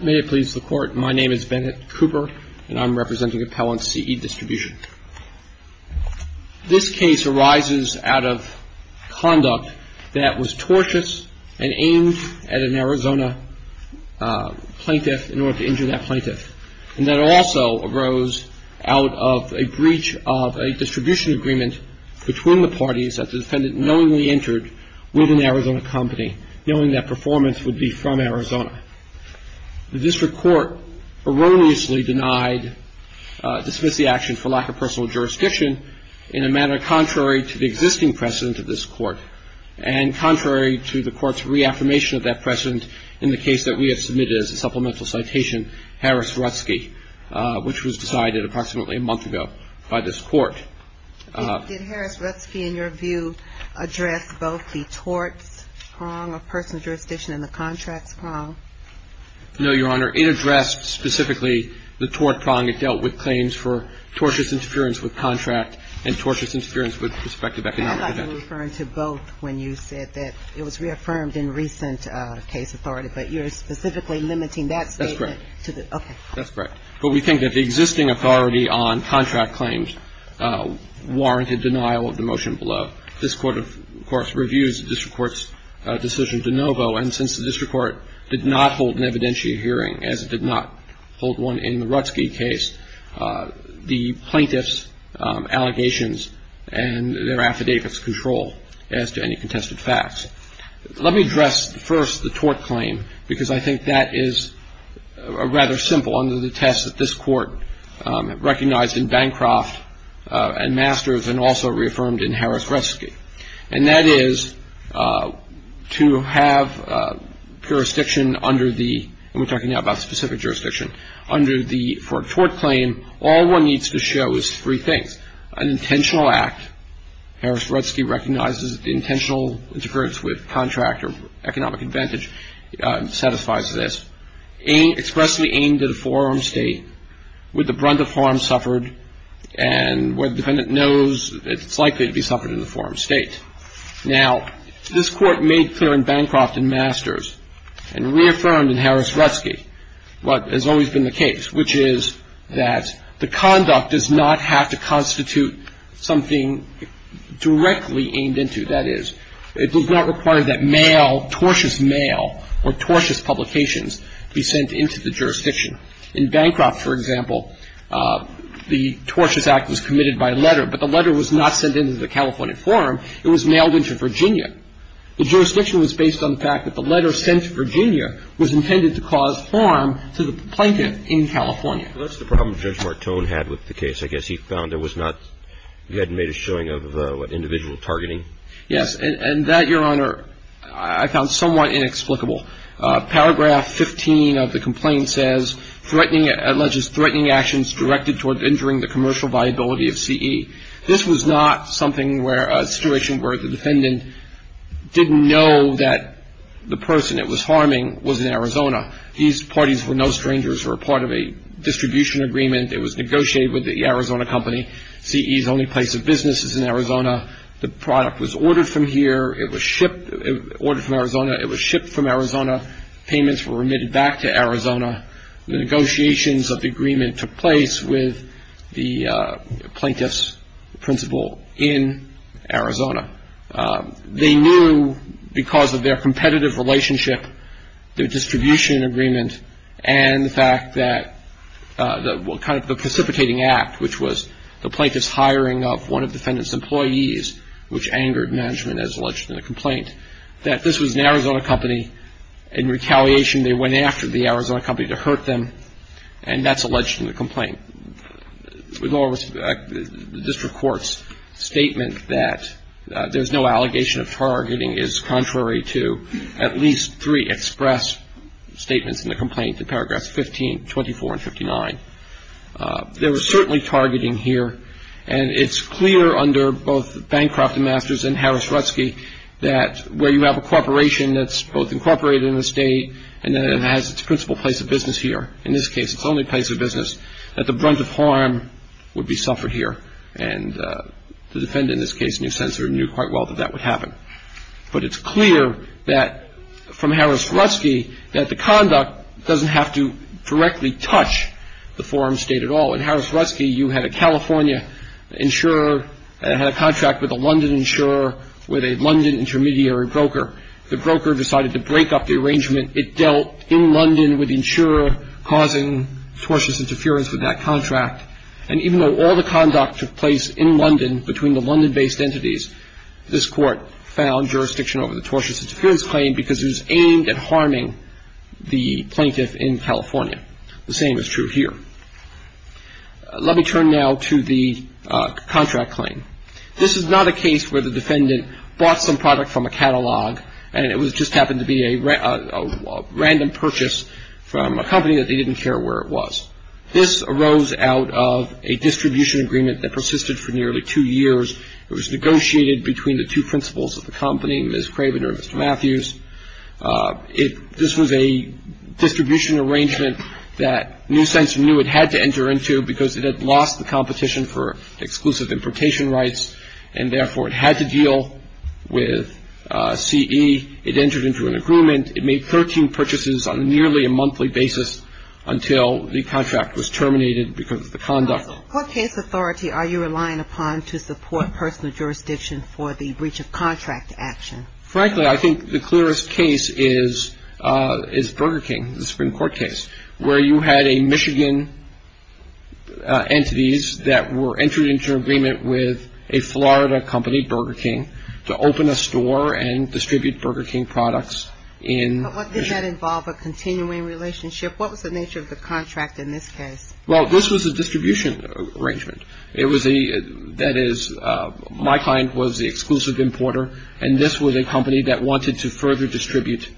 May it please the Court, my name is Bennett Cooper and I'm representing Appellant C.E. Distribution. This case arises out of conduct that was tortious and aimed at an Arizona plaintiff in order to injure that plaintiff. And that also arose out of a breach of a distribution agreement between the parties that the defendant knowingly entered with an Arizona company, knowing that performance would be from Arizona. The district court erroneously denied dismissal of the action for lack of personal jurisdiction in a manner contrary to the existing precedent of this court and contrary to the court's reaffirmation of that precedent in the case that we have submitted as a supplemental citation, Harris-Rutzke, which was decided approximately a month ago by this court. Did Harris-Rutzke, in your view, address both the torts prong of personal jurisdiction and the contracts prong? No, Your Honor. It addressed specifically the tort prong. It dealt with claims for tortious interference with contract and tortious interference with prospective economic event. I thought you were referring to both when you said that it was reaffirmed in recent case authority. But you're specifically limiting that statement to the – That's correct. Okay. That's correct. But we think that the existing authority on contract claims warranted denial of the motion below. This Court, of course, reviews the district court's decision de novo. And since the district court did not hold an evidentiary hearing, as it did not hold one in the Rutzke case, the plaintiffs' allegations and their affidavits control as to any contested facts. Let me address first the tort claim, because I think that is rather simple under the test that this Court recognized in Bancroft and Masters and also reaffirmed in Harris-Rutzke. And that is to have jurisdiction under the – and we're talking now about specific jurisdiction – under the – for a tort claim, all one needs to show is three things. An intentional act. Harris-Rutzke recognizes the intentional interference with contract or economic advantage satisfies this. Expressly aimed at a forearm state with the brunt of forearms suffered and where the defendant knows it's likely to be suffered in the forearm state. Now, this Court made clear in Bancroft and Masters and reaffirmed in Harris-Rutzke what has always been the case, which is that the conduct does not have to constitute something directly aimed into. That is, it does not require that mail, tortious mail or tortious publications, be sent into the jurisdiction. In Bancroft, for example, the tortious act was committed by letter, but the letter was not sent into the California forum. It was mailed into Virginia. The jurisdiction was based on the fact that the letter sent to Virginia was intended to cause harm to the plaintiff in California. Well, that's the problem Judge Martone had with the case. I guess he found there was not – he hadn't made a showing of, what, individual targeting. Yes, and that, Your Honor, I found somewhat inexplicable. Paragraph 15 of the complaint says, threatening – it alleges threatening actions directed toward injuring the commercial viability of CE. This was not something where – a situation where the defendant didn't know that the person it was harming was in Arizona. These parties were no strangers, were part of a distribution agreement. It was negotiated with the Arizona company. CE's only place of business is in Arizona. The product was ordered from here. It was shipped – ordered from Arizona. It was shipped from Arizona. Payments were remitted back to Arizona. The negotiations of the agreement took place with the plaintiff's principal in Arizona. They knew, because of their competitive relationship, their distribution agreement, and the fact that the – kind of the precipitating act, which was the plaintiff's hiring of one of the defendant's employees, which angered management as alleged in the complaint, that this was an Arizona company. In retaliation, they went after the Arizona company to hurt them, and that's alleged in the complaint. With all respect, the district court's statement that there's no allegation of targeting is contrary to at least three express statements in the complaint in paragraphs 15, 24, and 59. There was certainly targeting here, and it's clear under both Bancroft and Masters and Harris-Rutsky that where you have a corporation that's both incorporated in the state and then it has its principal place of business here – in this case, its only place of business – that the brunt of harm would be suffered here. And the defendant, in this case, knew quite well that that would happen. But it's clear that, from Harris-Rutsky, that the conduct doesn't have to directly touch the foreign state at all. In Harris-Rutsky, you had a California insurer, and it had a contract with a London insurer with a London intermediary broker. The broker decided to break up the arrangement. It dealt in London with the insurer, causing tortious interference with that contract. And even though all the conduct took place in London between the London-based entities, this Court found jurisdiction over the tortious interference claim because it was aimed at harming the plaintiff in California. The same is true here. Let me turn now to the contract claim. This is not a case where the defendant bought some product from a catalog and it just happened to be a random purchase from a company that they didn't care where it was. This arose out of a distribution agreement that persisted for nearly two years. It was negotiated between the two principals of the company, Ms. Craven or Mr. Matthews. This was a distribution arrangement that Newsense knew it had to enter into because it had lost the competition for exclusive importation rights, and therefore it had to deal with CE. It entered into an agreement. It made 13 purchases on nearly a monthly basis until the contract was terminated because of the conduct. What case authority are you relying upon to support personal jurisdiction for the breach of contract action? Frankly, I think the clearest case is Burger King, the Supreme Court case, where you had a Michigan entities that were entered into an agreement with a Florida company, Burger King, to open a store and distribute Burger King products in. But what did that involve, a continuing relationship? What was the nature of the contract in this case? Well, this was a distribution arrangement. That is, my client was the exclusive importer, and this was a company that wanted to further distribute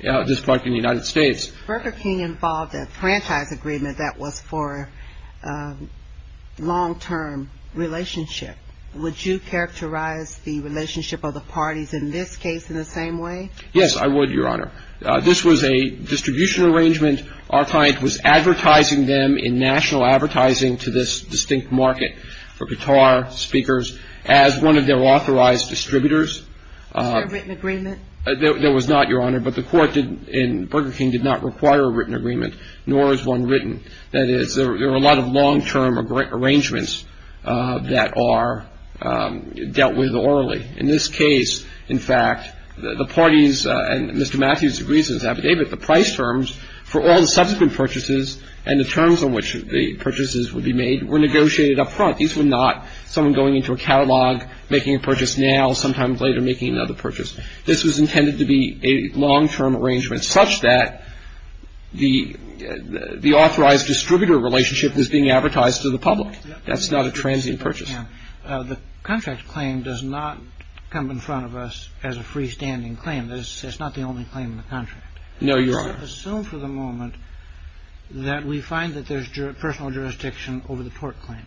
this product in the United States. Burger King involved a franchise agreement that was for a long-term relationship. Would you characterize the relationship of the parties in this case in the same way? Yes, I would, Your Honor. This was a distribution arrangement. Our client was advertising them in national advertising to this distinct market for guitar speakers as one of their authorized distributors. Was there a written agreement? There was not, Your Honor. But the court in Burger King did not require a written agreement, nor is one written. That is, there are a lot of long-term arrangements that are dealt with orally. In this case, in fact, the parties, and Mr. Matthews agrees with that, but the price terms for all the subsequent purchases and the terms on which the purchases would be made were negotiated up front. These were not someone going into a catalog, making a purchase now, sometimes later making another purchase. This was intended to be a long-term arrangement such that the authorized distributor relationship was being advertised to the public. That's not a transient purchase. The contract claim does not come in front of us as a freestanding claim. That's not the only claim in the contract. No, Your Honor. Let's assume for the moment that we find that there's personal jurisdiction over the tort claim.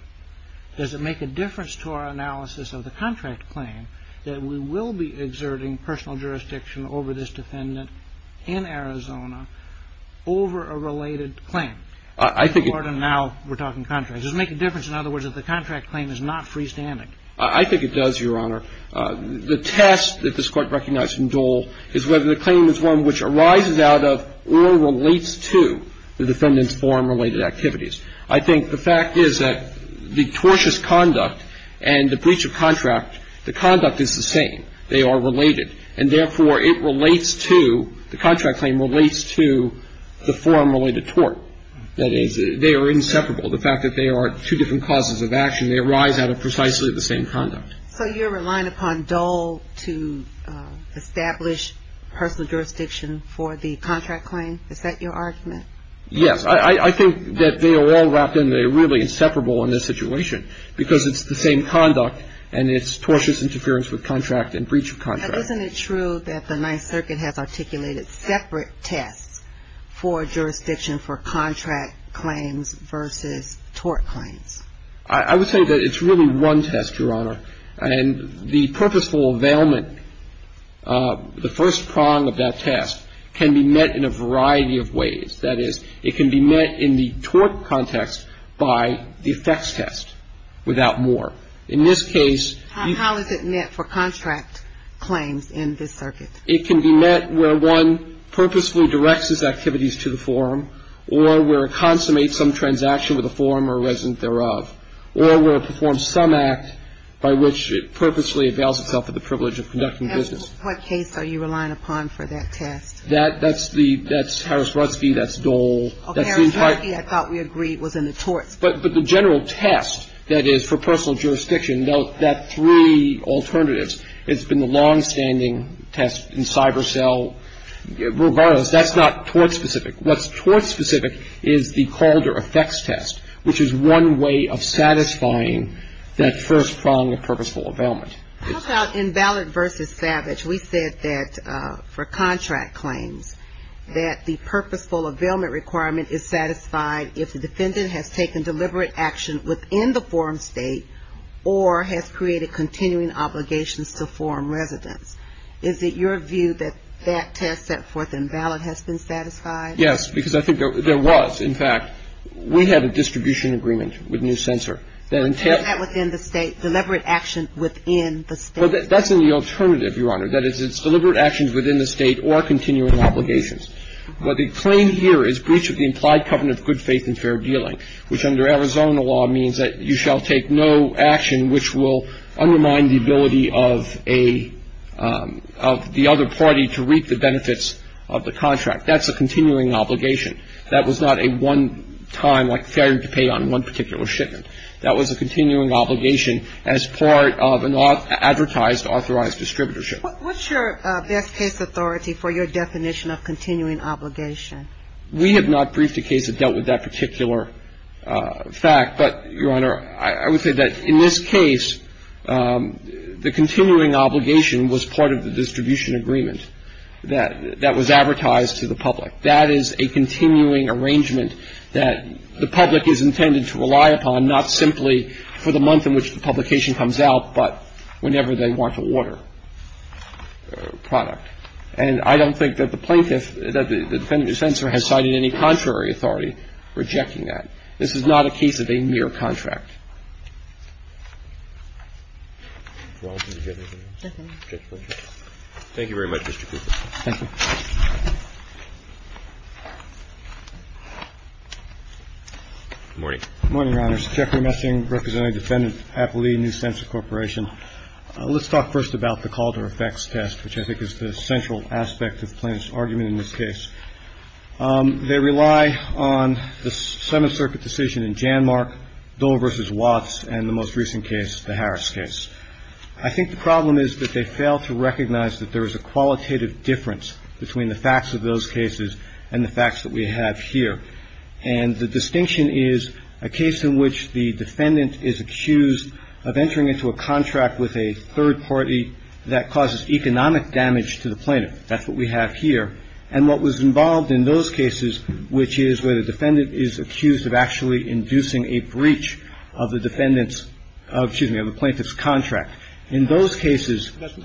Does it make a difference to our analysis of the contract claim that we will be exerting personal jurisdiction over this defendant in Arizona over a related claim? I think it... In court, and now we're talking contracts. Does it make a difference, in other words, that the contract claim is not freestanding? I think it does, Your Honor. The test that this Court recognized in Dole is whether the claim is one which arises out of or relates to the defendant's foreign-related activities. I think the fact is that the tortious conduct and the breach of contract, the conduct is the same. They are related. And therefore, it relates to, the contract claim relates to, the foreign-related tort. That is, they are inseparable. The fact that they are two different causes of action, they arise out of precisely the same conduct. So you're relying upon Dole to establish personal jurisdiction for the contract claim? Is that your argument? Yes. I think that they are all wrapped in. They're really inseparable in this situation because it's the same conduct and it's tortious interference with contract and breach of contract. But isn't it true that the Ninth Circuit has articulated separate tests for jurisdiction for contract claims versus tort claims? I would say that it's really one test, Your Honor. And the purposeful availment, the first prong of that test can be met in a variety of ways. That is, it can be met in the tort context by the effects test without more. In this case you can't. How is it met for contract claims in this circuit? It can be met where one purposefully directs its activities to the forum or where it consummates some transaction with a forum or resident thereof or where it performs some act by which it purposefully avails itself of the privilege of conducting business. And what case are you relying upon for that test? That's the, that's Harris-Rutzke, that's Dole. Oh, Harris-Rutzke, I thought we agreed was in the torts. But the general test that is for personal jurisdiction, that three alternatives, it's been the longstanding test in cyber cell. Regardless, that's not tort-specific. What's tort-specific is the Calder effects test, which is one way of satisfying that first prong of purposeful availment. How about invalid versus savage? We said that for contract claims that the purposeful availment requirement is satisfied if the defendant has taken deliberate action within the forum state or has created continuing obligations to forum residents. Is it your view that that test set forth invalid has been satisfied? Yes, because I think there was. In fact, we had a distribution agreement with New Censor that intended to Is that within the state, deliberate action within the state? Well, that's in the alternative, Your Honor. That is, it's deliberate actions within the state or continuing obligations. Well, the claim here is breach of the implied covenant of good faith and fair dealing, which under Arizona law means that you shall take no action which will undermine the ability of a of the other party to reap the benefits of the contract. That's a continuing obligation. That was not a one-time, like failing to pay on one particular shipment. That was a continuing obligation as part of an advertised authorized distributorship. What's your best case authority for your definition of continuing obligation? We have not briefed a case that dealt with that particular fact, but, Your Honor, I would say that in this case, the continuing obligation was part of the distribution agreement that was advertised to the public. That is a continuing arrangement that the public is intended to rely upon, not simply for the month in which the publication comes out, but whenever they want a water product. And I don't think that the plaintiff, that the defendant or senator has cited any contrary authority rejecting that. This is not a case of a mere contract. Thank you very much, Mr. Cooper. Thank you. Good morning. Good morning, Your Honors. Jeffrey Messing, representing Defendant Appellee, New Sensor Corporation. Let's talk first about the Calder effects test, which I think is the central aspect of plaintiff's argument in this case. They rely on the Seventh Circuit decision in Janmark, Dole v. Watts, and the most recent case, the Harris case. I think the problem is that they fail to recognize that there is a qualitative difference between the facts of those cases and the facts that we have here. And the distinction is a case in which the defendant is accused of entering into a contract with a third party that causes economic damage to the plaintiff. That's what we have here. And what was involved in those cases, which is where the defendant is accused of actually inducing a breach of the defendant's – excuse me, of the plaintiff's contract. In those cases – That's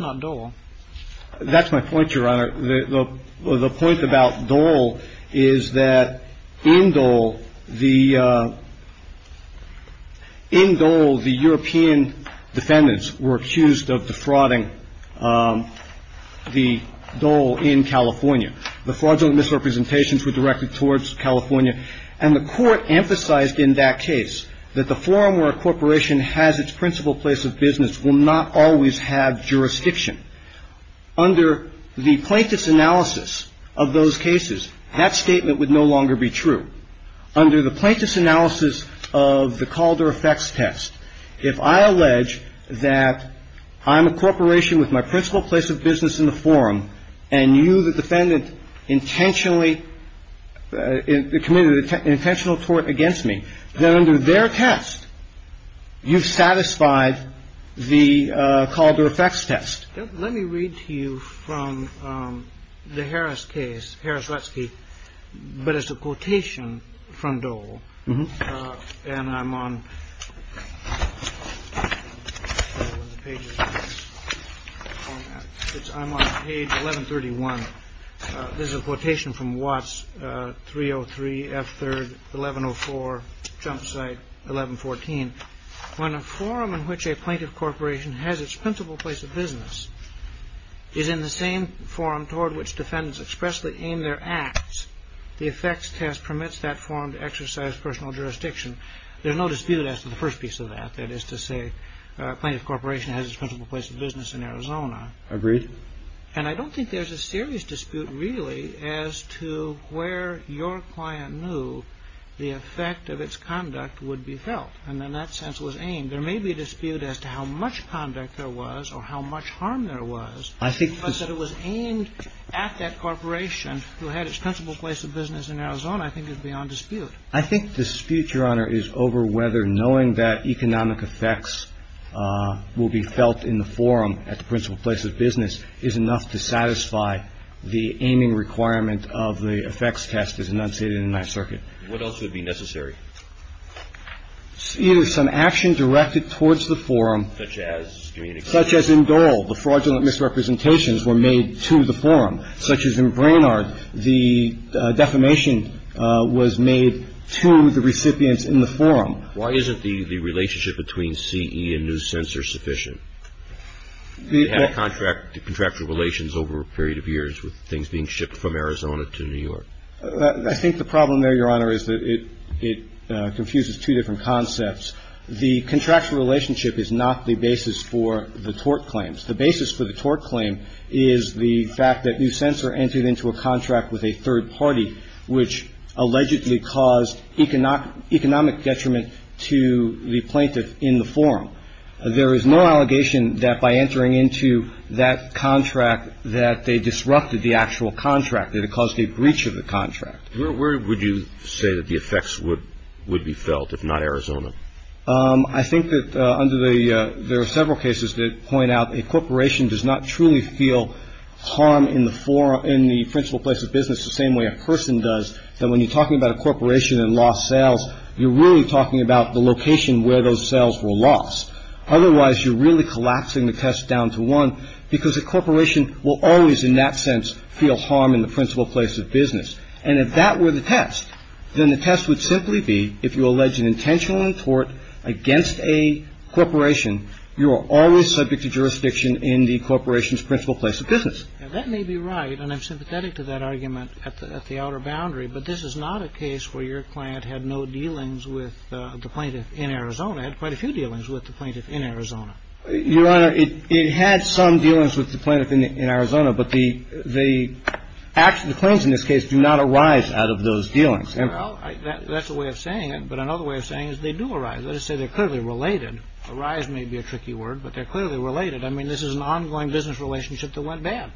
not Dole. That's my point, Your Honor. The point about Dole is that in Dole, the European defendants were accused of defrauding the Dole in California. The fraudulent misrepresentations were directed towards California. And the Court emphasized in that case that the forum where a corporation has its principal place of business will not always have jurisdiction. Under the plaintiff's analysis of those cases, that statement would no longer be true. Under the plaintiff's analysis of the Calder effects test, if I allege that I'm a corporation with my principal place of business in the forum, and you, the defendant, intentionally – committed an intentional tort against me, then under their test, you've satisfied the Calder effects test. Let me read to you from the Harris case, Harris-Wetzky. But it's a quotation from Dole. And I'm on – I'm on page 1131. This is a quotation from Watts, 303, F3, 1104, Jump Site, 1114. When a forum in which a plaintiff corporation has its principal place of business is in the same forum toward which defendants expressly aim their acts, the effects test permits that forum to exercise personal jurisdiction. There's no dispute as to the first piece of that, that is to say a plaintiff corporation has its principal place of business in Arizona. Agreed. And I don't think there's a serious dispute really as to where your client knew the effect of its conduct would be felt. And in that sense, it was aimed. There may be a dispute as to how much conduct there was or how much harm there was. I think the – But that it was aimed at that corporation who had its principal place of business in Arizona I think is beyond dispute. I think dispute, Your Honor, is over whether knowing that economic effects will be felt in the forum at the principal place of business is enough to satisfy the aiming requirement of the effects test as enunciated in Ninth Circuit. What else would be necessary? It is some action directed towards the forum. Such as? Such as in Dole, the fraudulent misrepresentations were made to the forum. Such as in Brainard, the defamation was made to the recipients in the forum. Why isn't the relationship between CE and News Censor sufficient? They had contractual relations over a period of years with things being shipped from Arizona to New York. I think the problem there, Your Honor, is that it confuses two different concepts. The contractual relationship is not the basis for the tort claims. The basis for the tort claim is the fact that News Censor entered into a contract with a third party, which allegedly caused economic detriment to the plaintiff in the forum. There is no allegation that by entering into that contract that they disrupted the actual contract, that it caused a breach of the contract. Where would you say that the effects would be felt if not Arizona? I think that there are several cases that point out a corporation does not truly feel harm in the principal place of business the same way a person does. When you're talking about a corporation and lost sales, you're really talking about the location where those sales were lost. Otherwise, you're really collapsing the test down to one because a corporation will always in that sense feel harm in the principal place of business. And if that were the test, then the test would simply be, if you allege an intentional tort against a corporation, you are always subject to jurisdiction in the corporation's principal place of business. Now, that may be right, and I'm sympathetic to that argument at the outer boundary, but this is not a case where your client had no dealings with the plaintiff in Arizona, had quite a few dealings with the plaintiff in Arizona. Your Honor, it had some dealings with the plaintiff in Arizona, but the claims in this case do not arise out of those dealings. Well, that's a way of saying it, but another way of saying it is they do arise. That is to say, they're clearly related. Arise may be a tricky word, but they're clearly related. I mean, this is an ongoing business relationship that went bad.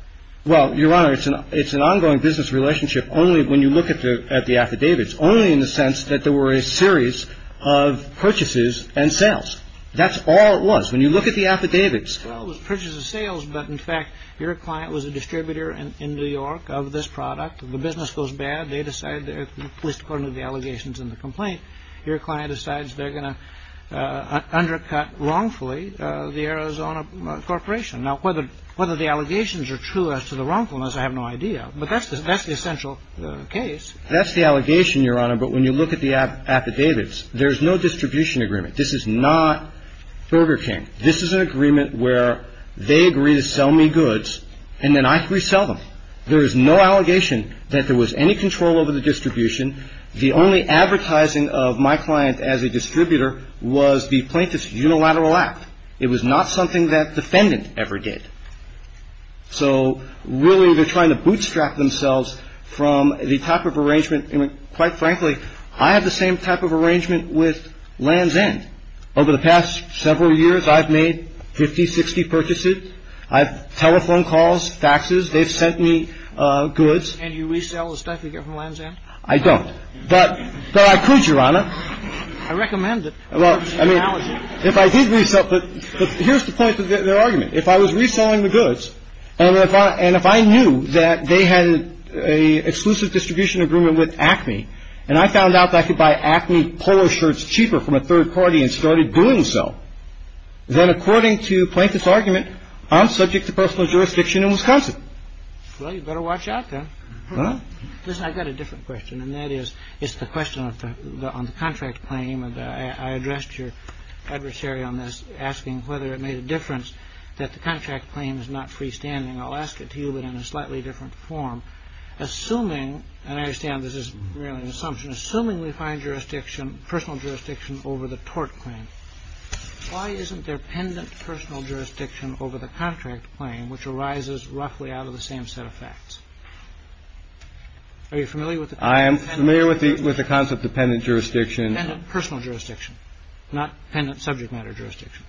Well, Your Honor, it's an ongoing business relationship only when you look at the affidavits, only in the sense that there were a series of purchases and sales. That's all it was. When you look at the affidavits. Well, it was purchases and sales, but, in fact, your client was a distributor in New York of this product. If the business goes bad, they decide, at least according to the allegations in the complaint, your client decides they're going to undercut wrongfully the Arizona Corporation. Now, whether the allegations are true as to the wrongfulness, I have no idea, but that's the essential case. That's the allegation, Your Honor, but when you look at the affidavits, there's no distribution agreement. This is not Burger King. This is an agreement where they agree to sell me goods, and then I can resell them. There is no allegation that there was any control over the distribution. The only advertising of my client as a distributor was the plaintiff's unilateral act. It was not something that defendant ever did. So, really, they're trying to bootstrap themselves from the type of arrangement. And, quite frankly, I have the same type of arrangement with Land's End. Over the past several years, I've made 50, 60 purchases. I have telephone calls, faxes. They've sent me goods. And you resell the stuff you get from Land's End? I don't. But I could, Your Honor. I recommend it. Well, I mean, if I did resell it, but here's the point of their argument. If I was reselling the goods, and if I knew that they had an exclusive distribution agreement with Acme, and I found out that I could buy Acme polo shirts cheaper from a third party and started doing so, then, according to the plaintiff's argument, I'm subject to personal jurisdiction in Wisconsin. Well, you better watch out, then. Listen, I've got a different question, and that is, it's the question on the contract claim. And I addressed your adversary on this, asking whether it made a difference that the contract claim is not freestanding. I'll ask it to you, but in a slightly different form. Assuming, and I understand this is really an assumption, assuming we find jurisdiction, personal jurisdiction, over the tort claim, why isn't there pendant personal jurisdiction over the contract claim, which arises roughly out of the same set of facts? Are you familiar with the concept? I am familiar with the concept of pendant jurisdiction. Pendant personal jurisdiction, not pendant subject matter jurisdiction.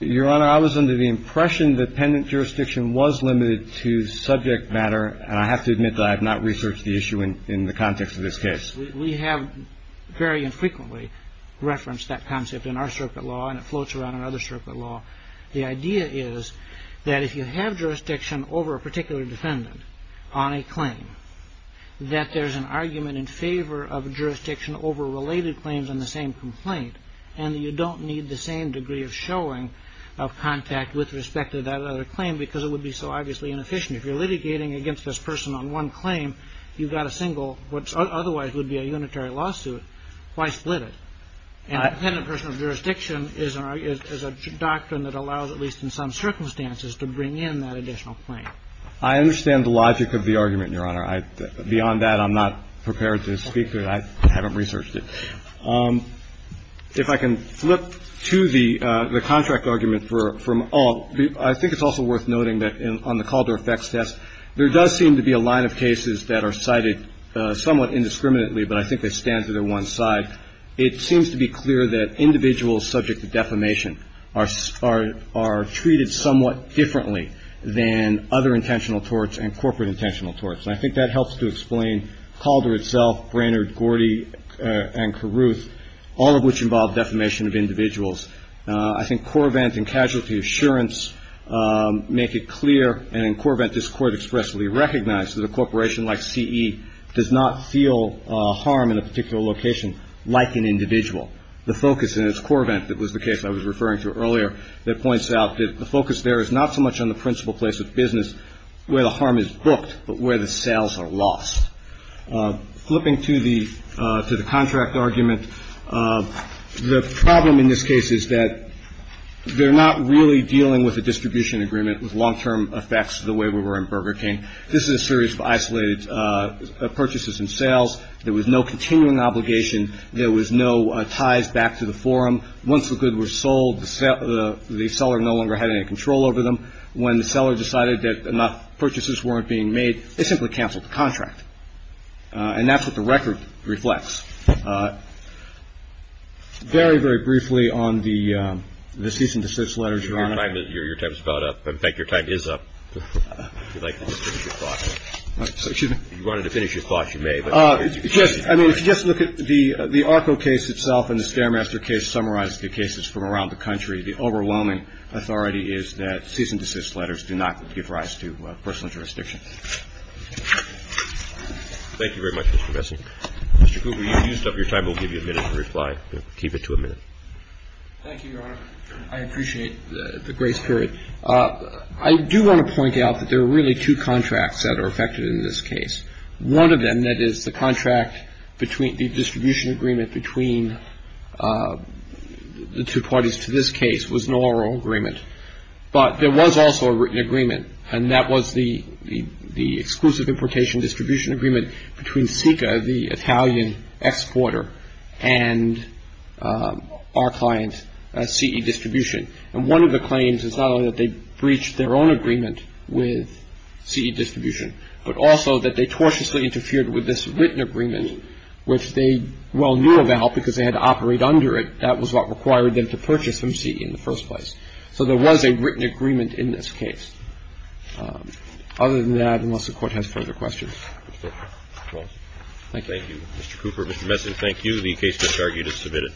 Your Honor, I was under the impression that pendant jurisdiction was limited to subject matter, and I have to admit that I have not researched the issue in the context of this case. We have very infrequently referenced that concept in our circuit law, and it floats around in other circuit law. The idea is that if you have jurisdiction over a particular defendant on a claim, that there's an argument in favor of jurisdiction over related claims on the same complaint, and that you don't need the same degree of showing of contact with respect to that other claim, because it would be so obviously inefficient. If you're litigating against this person on one claim, you've got a single, what otherwise would be a unitary lawsuit, why split it? And pendant personal jurisdiction is a doctrine that allows, at least in some circumstances, to bring in that additional claim. I understand the logic of the argument, Your Honor. Beyond that, I'm not prepared to speak to it. I haven't researched it. If I can flip to the contract argument from all. I think it's also worth noting that on the Calder effects test, there does seem to be a line of cases that are cited somewhat indiscriminately, but I think they stand to their one side. It seems to be clear that individuals subject to defamation are treated somewhat differently than other intentional torts and corporate intentional torts. And I think that helps to explain Calder itself, Brainerd, Gordy, and Carruth, all of which involve defamation of individuals. I think Corvent and Casualty Assurance make it clear, and in Corvent this Court expressly recognized that a corporation like CE does not feel harm in a particular location like an individual. The focus, and it's Corvent that was the case I was referring to earlier, that points out that the focus there is not so much on the principal place of business, where the harm is booked, but where the sales are lost. Flipping to the contract argument, the problem in this case is that they're not really dealing with a distribution agreement with long-term effects the way we were in Burger King. This is a series of isolated purchases and sales. There was no continuing obligation. There was no ties back to the forum. Once the goods were sold, the seller no longer had any control over them. When the seller decided that enough purchases weren't being made, they simply canceled the contract. And that's what the record reflects. Very, very briefly on the cease and desist letters, Your Honor. Your time is about up. In fact, your time is up. If you'd like to finish your thoughts. If you wanted to finish your thoughts, you may. I mean, if you just look at the ARCO case itself and the Scaramaster case, summarize the cases from around the country, the overwhelming authority is that cease and desist letters do not give rise to personal jurisdiction. Thank you very much, Mr. Bessel. Mr. Cooper, you've used up your time. We'll give you a minute to reply. Keep it to a minute. Thank you, Your Honor. I appreciate the grace period. I do want to point out that there are really two contracts that are affected in this case. One of them that is the contract between the distribution agreement between the two parties to this case was an oral agreement. But there was also a written agreement, and that was the exclusive importation distribution agreement between SICA, the Italian exporter, and our client, CE Distribution. And one of the claims is not only that they breached their own agreement with CE Distribution, but also that they tortiously interfered with this written agreement, which they well knew about because they had to operate under it. That was what required them to purchase from CE in the first place. So there was a written agreement in this case. Other than that, unless the Court has further questions. Thank you. Thank you, Mr. Cooper. Mr. Bessel, thank you. The case discharge is submitted.